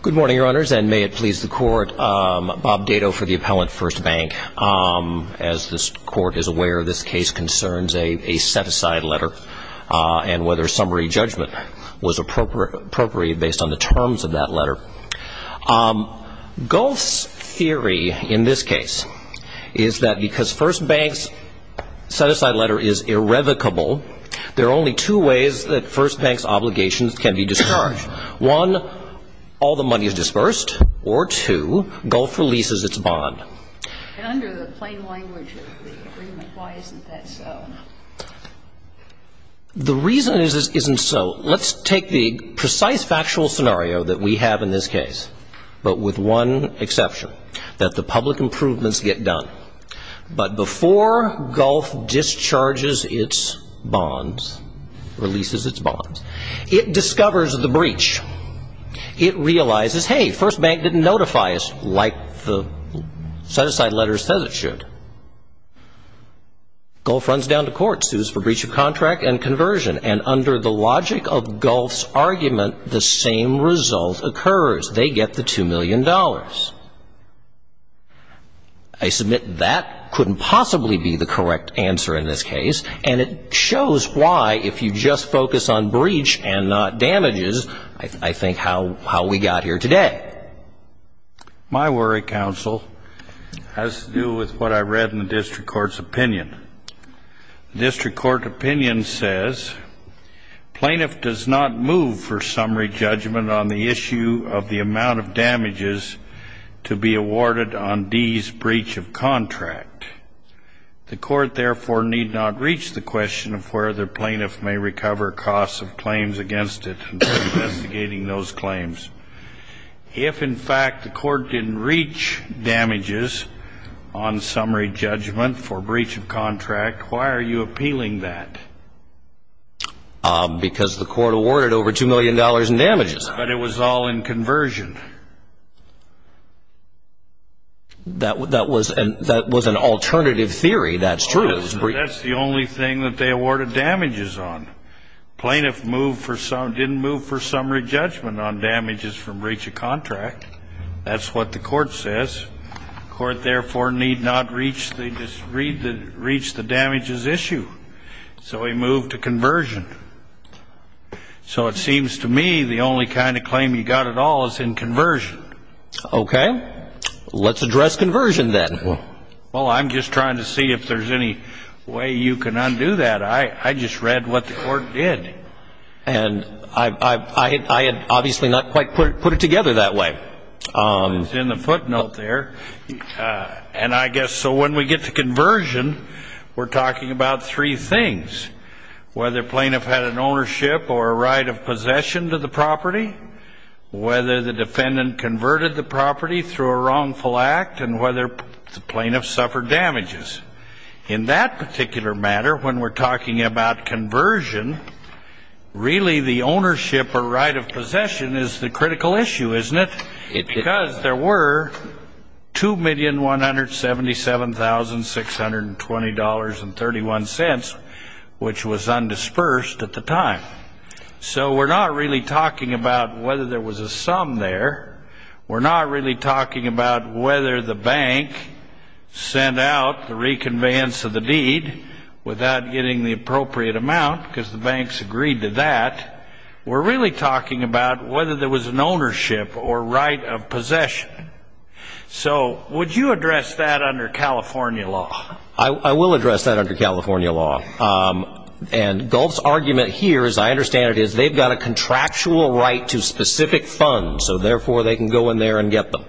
Good morning, your honors, and may it please the court, Bob Dato for the appellant, First Bank. As this court is aware, this case concerns a set-aside letter and whether summary judgment was appropriate based on the terms of that letter. Gulf's theory in this case is that because First Bank's set-aside letter is irrevocable, there are only two ways that First Bank's One, all the money is dispersed, or two, Gulf releases its bond. And under the plain language of the agreement, why isn't that so? The reason it isn't so, let's take the precise factual scenario that we have in this case, but with one exception, that the public improvements get done. But before Gulf discharges its bonds, releases its It realizes, hey, First Bank didn't notify us like the set-aside letter says it should. Gulf runs down to court, sues for breach of contract and conversion, and under the logic of Gulf's argument, the same result occurs. They get the $2 million. I submit that couldn't possibly be the I think how we got here today. My worry, counsel, has to do with what I read in the district court's opinion. The district court opinion says, Plaintiff does not move for summary judgment on the issue of the amount of damages to be awarded on D's breach of contract. The court, therefore, need not reach the If, in fact, the court didn't reach damages on summary judgment for breach of contract, why are you appealing that? Because the court awarded over $2 million in damages. But it was all in conversion. That was an alternative theory, that's true. That's the only thing that they awarded damages on. Plaintiff didn't move for summary judgment on damages from breach of contract. That's what the court says. The court, therefore, need not reach the damages issue. So he moved to conversion. So it seems to me the only kind of claim you got at all is in conversion. Okay. Let's address conversion then. Well, I'm just trying to see if there's any way you can undo that. I just read what the court did. And I had obviously not quite put it together that way. It was in the footnote there. And I guess so when we get to conversion, we're talking about three things, whether plaintiff had an ownership or a right of possession to the property, whether the defendant converted the property through a In that particular matter, when we're talking about conversion, really the ownership or right of possession is the critical issue, isn't it? Because there were $2,177,620.31, which was undisbursed at the time. So we're not really talking about whether there was a sum there. We're not really talking about whether the bank sent out the reconveyance of the deed without getting the appropriate amount because the banks agreed to that. We're really talking about whether there was an ownership or right of possession. So would you address that under California law? I will address that under California law. And Gulf's argument here, as I understand it, is they've got a contractual right to specific funds. So therefore, they can go in there and get them.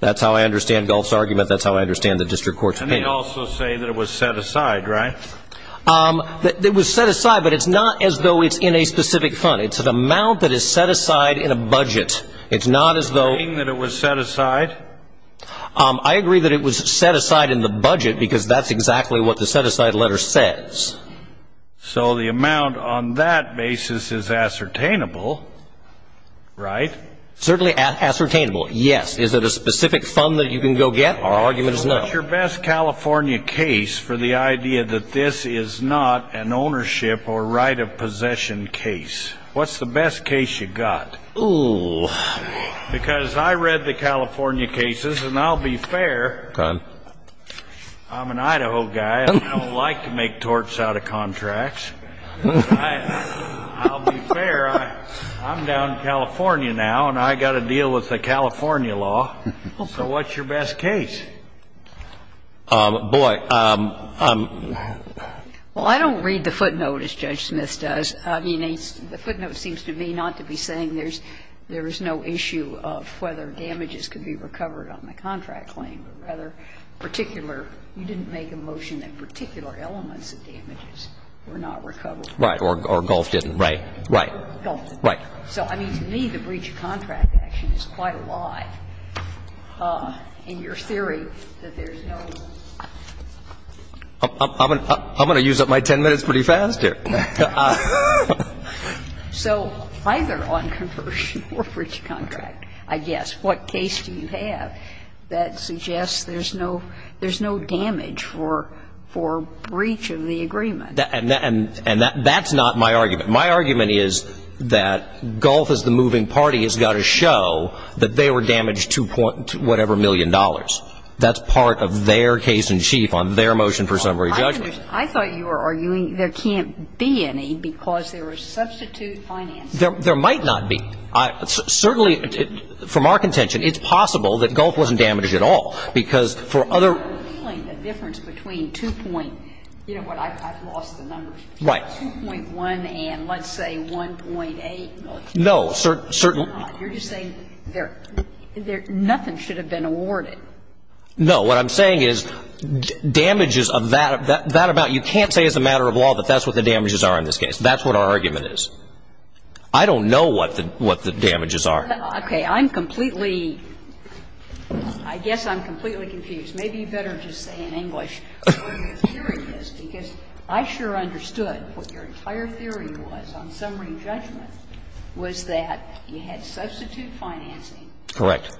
That's how I understand Gulf's argument. That's how I understand the district court's opinion. And they also say that it was set aside, right? It was set aside, but it's not as though it's in a specific fund. It's an amount that is set aside in a budget. It's not as though – Are you saying that it was set aside? I agree that it was set aside in the budget because that's exactly what the set-aside letter says. So the amount on that basis is ascertainable, right? Certainly ascertainable, yes. Is it a specific fund that you can go get? Our argument is no. What's your best California case for the idea that this is not an ownership or right of possession case? What's the best case you've got? Ooh. Go ahead. I'm an Idaho guy. I don't like to make torts out of contracts. I'll be fair. I'm down in California now, and I've got to deal with the California law. So what's your best case? Boy. Well, I don't read the footnote as Judge Smith does. I mean, the footnote seems to me not to be saying there's no issue of whether damages could be recovered on the contract claim. Rather, particular, you didn't make a motion that particular elements of damages were not recovered. Right. Or Gulf didn't. Right. Right. Gulf didn't. Right. So, I mean, to me, the breach of contract action is quite a lie in your theory that there's no. I'm going to use up my 10 minutes pretty fast here. So either on conversion or breach of contract, I guess, what case do you have that suggests there's no damage for breach of the agreement? And that's not my argument. My argument is that Gulf as the moving party has got to show that they were damaged to whatever million dollars. That's part of their case in chief on their motion for summary judgment. I thought you were arguing there can't be any because there was substitute financing. There might not be. Certainly, from our contention, it's possible that Gulf wasn't damaged at all. Because for other. The difference between two point, you know what, I've lost the numbers. Right. 2.1 and let's say 1.8 million. No. You're just saying nothing should have been awarded. No. What I'm saying is damages of that about you can't say as a matter of law that that's what the damages are in this case. That's what our argument is. I don't know what the damages are. Okay. I'm completely. I guess I'm completely confused. Maybe you better just say in English. Because I sure understood what your entire theory was on summary judgment was that you had substitute financing. Correct.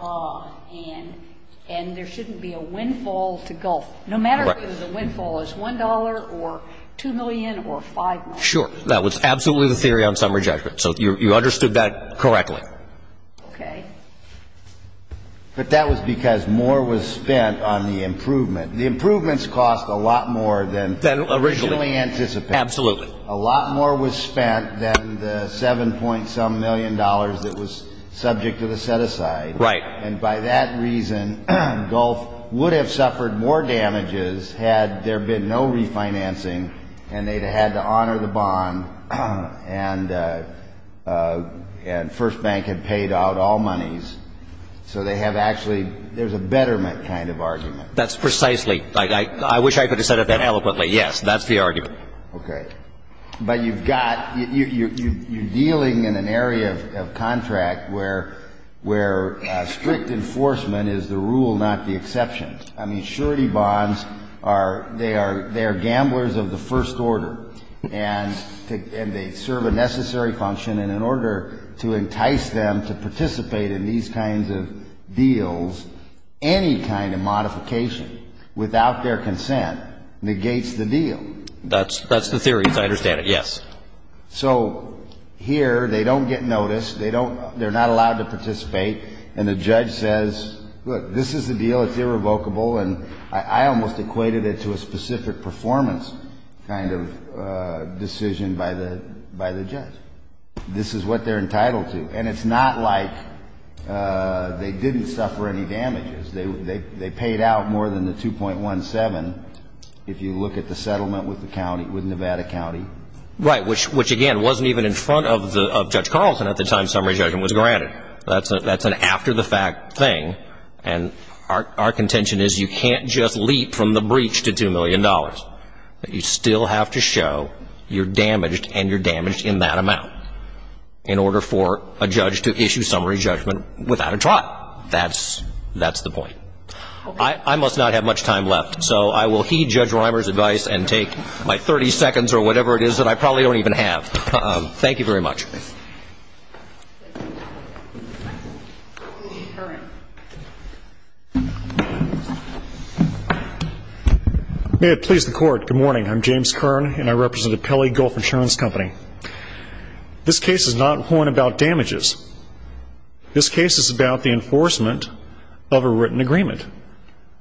And there shouldn't be a windfall to Gulf. No matter whether the windfall is $1 or 2 million or 5 million. Sure. That was absolutely the theory on summary judgment. So you understood that correctly. Okay. But that was because more was spent on the improvement. The improvements cost a lot more than originally anticipated. Absolutely. A lot more was spent than the 7 point some million dollars that was subject to the set aside. Right. And by that reason, Gulf would have suffered more damages had there been no refinancing and they'd have had to honor the bond. And First Bank had paid out all monies. So they have actually there's a betterment kind of argument. That's precisely. I wish I could have said it that eloquently. Yes. That's the argument. Okay. But you've got you're dealing in an area of contract where where strict enforcement is the rule, not the exception. I mean, surety bonds are they are they are gamblers of the first order and they serve a necessary function. And in order to entice them to participate in these kinds of deals, any kind of modification without their consent negates the deal. That's that's the theory. I understand it. Yes. So here they don't get notice. They don't they're not allowed to participate. And the judge says, look, this is the deal. It's irrevocable. And I almost equated it to a specific performance kind of decision by the by the judge. This is what they're entitled to. And it's not like they didn't suffer any damages. They paid out more than the two point one seven. If you look at the settlement with the county with Nevada County. Right. Which which, again, wasn't even in front of the judge Carlson at the time. Summary judgment was granted. That's that's an after the fact thing. And our contention is you can't just leap from the breach to two million dollars. You still have to show you're damaged and you're damaged in that amount in order for a judge to issue summary judgment without a trial. That's that's the point. I must not have much time left. So I will heed Judge Reimer's advice and take my 30 seconds or whatever it is that I probably don't even have. Thank you very much. May it please the court. Good morning. I'm James Kern and I represent a Pele Gulf insurance company. This case is not one about damages. This case is about the enforcement of a written agreement,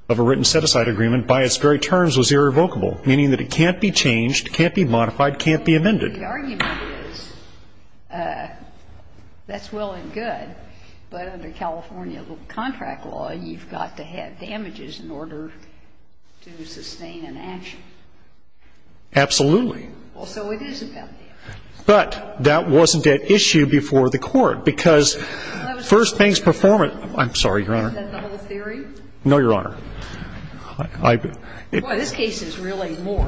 of a written set aside agreement by its very terms was irrevocable, meaning that it can't be changed, can't be modified, can't be amended. The argument is that's well and good. But under California contract law, you've got to have damages in order to sustain an action. Absolutely. So it is about damages. But that wasn't at issue before the court because First Bank's performance. I'm sorry, Your Honor. Is that the whole theory? No, Your Honor. Well, this case is really more.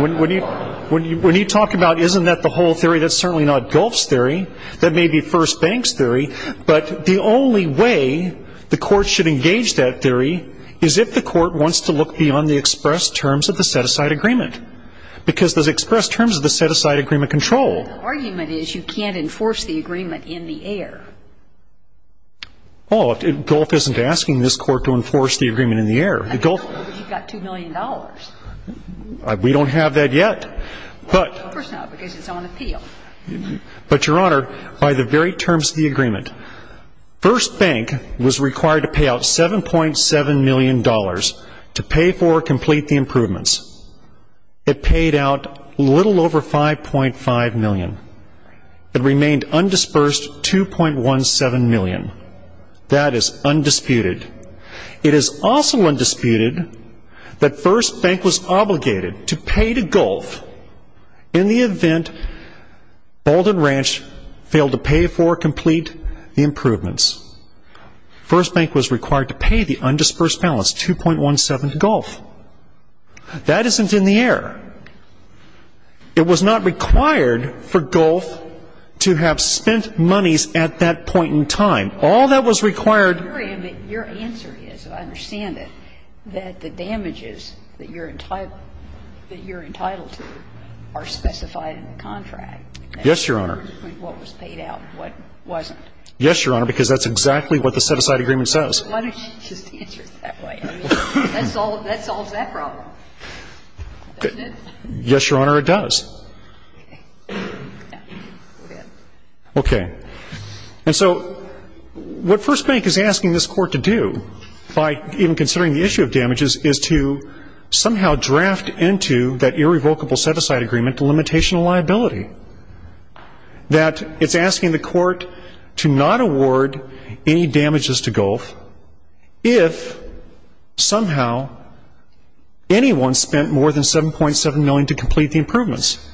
When you talk about isn't that the whole theory, that's certainly not Gulf's theory. That may be First Bank's theory. But the only way the court should engage that theory is if the court wants to look beyond the express terms of the set aside agreement. Because those express terms of the set aside agreement control. The argument is you can't enforce the agreement in the air. Well, Gulf isn't asking this court to enforce the agreement in the air. You've got $2 million. We don't have that yet. Of course not, because it's on appeal. But, Your Honor, by the very terms of the agreement, First Bank was required to pay out $7.7 million to pay for or complete the improvements. It paid out a little over $5.5 million. It remained undisbursed $2.17 million. That is undisputed. It is also undisputed that First Bank was obligated to pay to Gulf in the event Bolden Ranch failed to pay for or complete the improvements. First Bank was required to pay the undisbursed balance, $2.17 to Gulf. That isn't in the air. It was not required for Gulf to have spent monies at that point in time. All that was required. Your answer is, I understand it, that the damages that you're entitled to are specified in the contract. Yes, Your Honor. What was paid out and what wasn't. Yes, Your Honor, because that's exactly what the set-aside agreement says. Why don't you just answer it that way? I mean, that solves that problem, doesn't it? Yes, Your Honor, it does. Okay. And so what First Bank is asking this Court to do, by even considering the issue of damages, is to somehow draft into that irrevocable set-aside agreement a limitation of liability. That it's asking the Court to not award any damages to Gulf if somehow anyone spent more than $7.7 million to complete the improvements.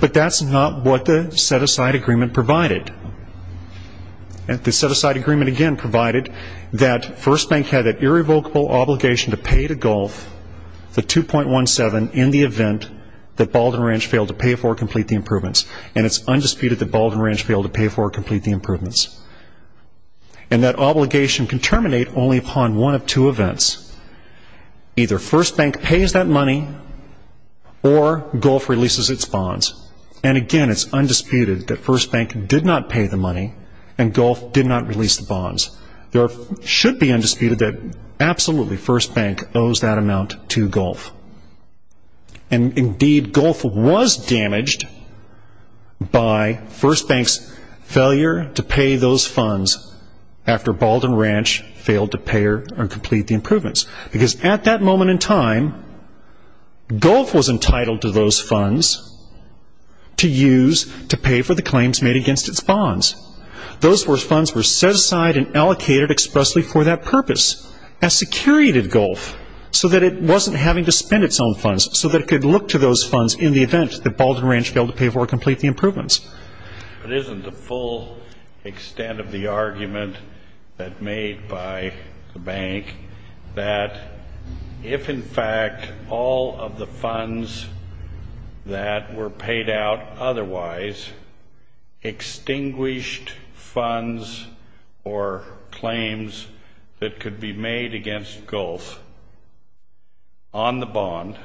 But that's not what the set-aside agreement provided. The set-aside agreement, again, provided that First Bank had that irrevocable obligation to pay to Gulf the 2.17 in the event that Bald and Ranch failed to pay for or complete the improvements. And it's undisputed that Bald and Ranch failed to pay for or complete the improvements. And that obligation can terminate only upon one of two events. Either First Bank pays that money or Gulf releases its bonds. And, again, it's undisputed that First Bank did not pay the money and Gulf did not release the bonds. There should be undisputed that absolutely First Bank owes that amount to Gulf. And, indeed, Gulf was damaged by First Bank's failure to pay those funds after Bald and Ranch failed to pay or complete the improvements. Because at that moment in time, Gulf was entitled to those funds to use to pay for the claims made against its bonds. Those funds were set aside and allocated expressly for that purpose as security to Gulf so that it wasn't having to spend its own funds, so that it could look to those funds in the event that Bald and Ranch failed to pay for or complete the improvements. But isn't the full extent of the argument that made by the bank that if, in fact, all of the funds that were paid out otherwise extinguished funds or claims that could be made against Gulf on the bond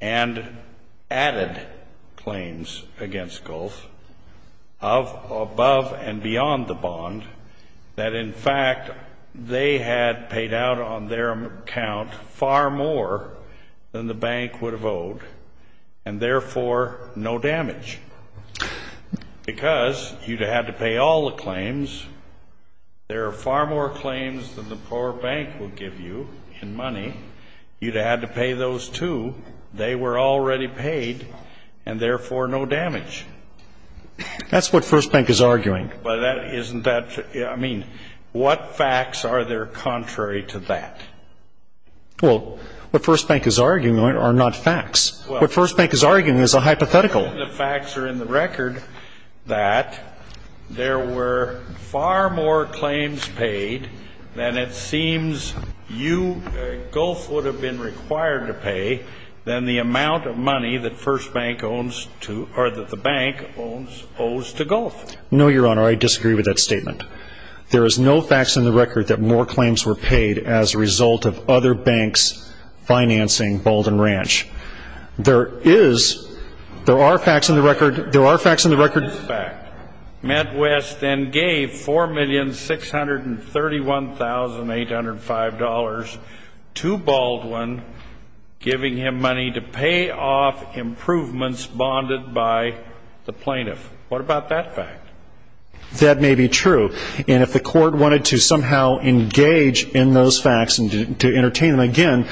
and added claims against Gulf above and beyond the bond, that, in fact, they had paid out on their account far more than the bank would have given you, and therefore no damage? Because you'd have had to pay all the claims. There are far more claims than the poor bank would give you in money. You'd have had to pay those, too. They were already paid, and, therefore, no damage. That's what First Bank is arguing. But isn't that, I mean, what facts are there contrary to that? Well, what First Bank is arguing are not facts. What First Bank is arguing is a hypothetical. The facts are in the record that there were far more claims paid than it seems you, Gulf, would have been required to pay than the amount of money that First Bank owes to, or that the bank owes to Gulf. No, Your Honor. I disagree with that statement. There is no facts in the record that more claims were paid as a result of other banks financing Baldwin Ranch. There is, there are facts in the record, there are facts in the record. Matt West then gave $4,631,805 to Baldwin, giving him money to pay off improvements bonded by the plaintiff. What about that fact? That may be true, and if the court wanted to somehow engage in those facts and to entertain them again,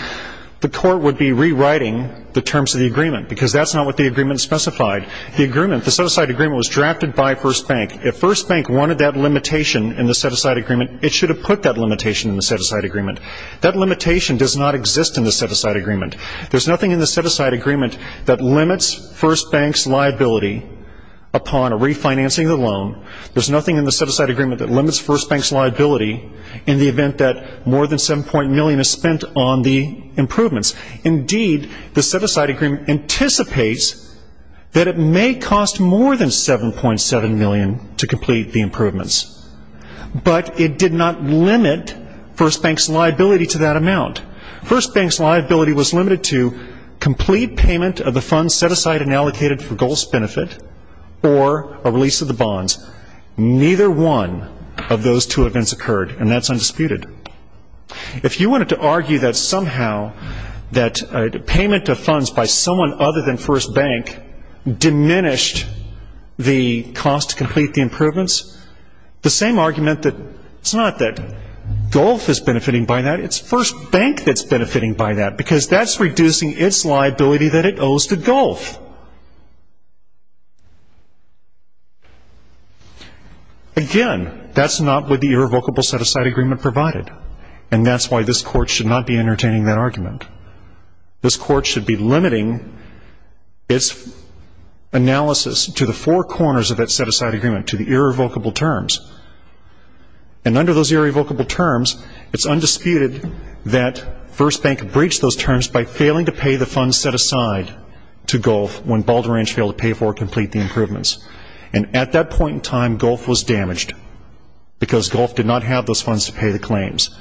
the court would be rewriting the terms of the agreement, because that's not what the agreement specified. The agreement, the set-aside agreement, was drafted by First Bank. If First Bank wanted that limitation in the set-aside agreement, it should have put that limitation in the set-aside agreement. That limitation does not exist in the set-aside agreement. There's nothing in the set-aside agreement that limits First Bank's liability upon a refinancing of the loan. There's nothing in the set-aside agreement that limits First Bank's liability in the event that more than $7. million is spent on the improvements. Indeed, the set-aside agreement anticipates that it may cost more than $7. million to complete the improvements. But it did not limit First Bank's liability to that amount. First Bank's liability was limited to complete payment of the funds set aside and allocated for GOLF's benefit or a release of the bonds. Neither one of those two events occurred, and that's undisputed. If you wanted to argue that somehow that payment of funds by someone other than First Bank diminished the cost to complete the by that, because that's reducing its liability that it owes to GOLF. Again, that's not what the irrevocable set-aside agreement provided, and that's why this Court should not be entertaining that argument. This Court should be limiting its analysis to the four corners of its set-aside agreement, to the irrevocable terms. And under those irrevocable terms, it's undisputed that First Bank breached those terms by failing to pay the funds set aside to GOLF when Baldrige failed to pay for or complete the improvements. And at that point in time, GOLF was damaged, because GOLF did not have those funds to pay the claims.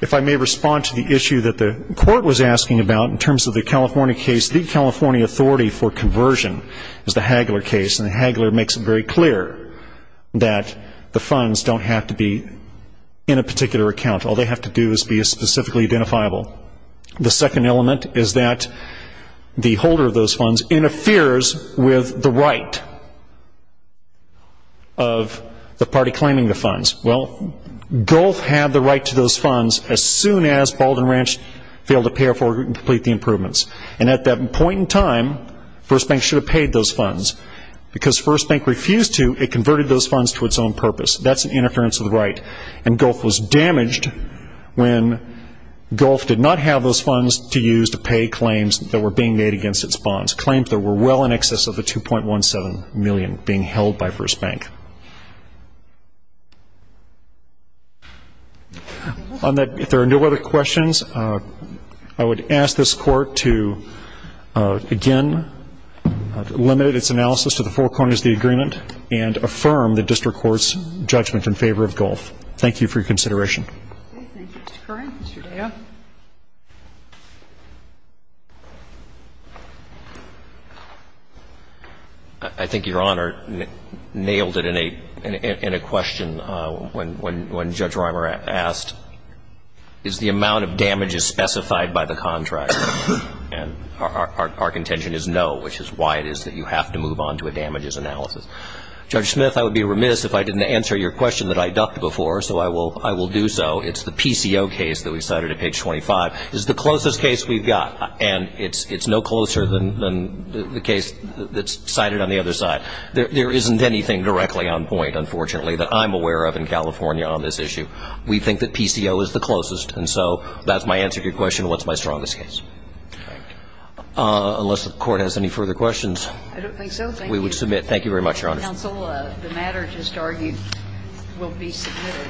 If I may respond to the issue that the Court was asking about in terms of the California case, the California authority for conversion is the Hagler case, and the Hagler makes it very clear. That the funds don't have to be in a particular account. All they have to do is be specifically identifiable. The second element is that the holder of those funds interferes with the right of the party claiming the funds. Well, GOLF had the right to those funds as soon as Baldrige failed to pay for or complete the improvements. And at that point in time, First Bank should have paid those funds. Because First Bank refused to, it converted those funds to its own purpose. That's an interference of the right. And GOLF was damaged when GOLF did not have those funds to use to pay claims that were being made against its bonds, claims that were well in excess of the $2.17 million being held by First Bank. On that, if there are no other questions, I would ask this Court to, again, limit its analysis to the four corners of the agreement and affirm the district court's judgment in favor of GOLF. Thank you for your consideration. Okay. Thank you, Mr. Curran. Mr. Daya. I think Your Honor nailed it in a question when Judge Reimer asked, is the amount of damages specified by the contract? And our contention is no, which is why it is that you have to move on to a damages analysis. Judge Smith, I would be remiss if I didn't answer your question that I ducked before, so I will do so. It's the PCO case that we cited at page 25. It's the closest case we've got, and it's no closer than the case that's cited on the other side. There isn't anything directly on point, unfortunately, that I'm aware of in California on this issue. We think that PCO is the closest, and so that's my answer to your question, what's my strongest case. All right. Unless the Court has any further questions. I don't think so. Thank you. We would submit. Thank you very much, Your Honor. Counsel, the matter just argued will be submitted.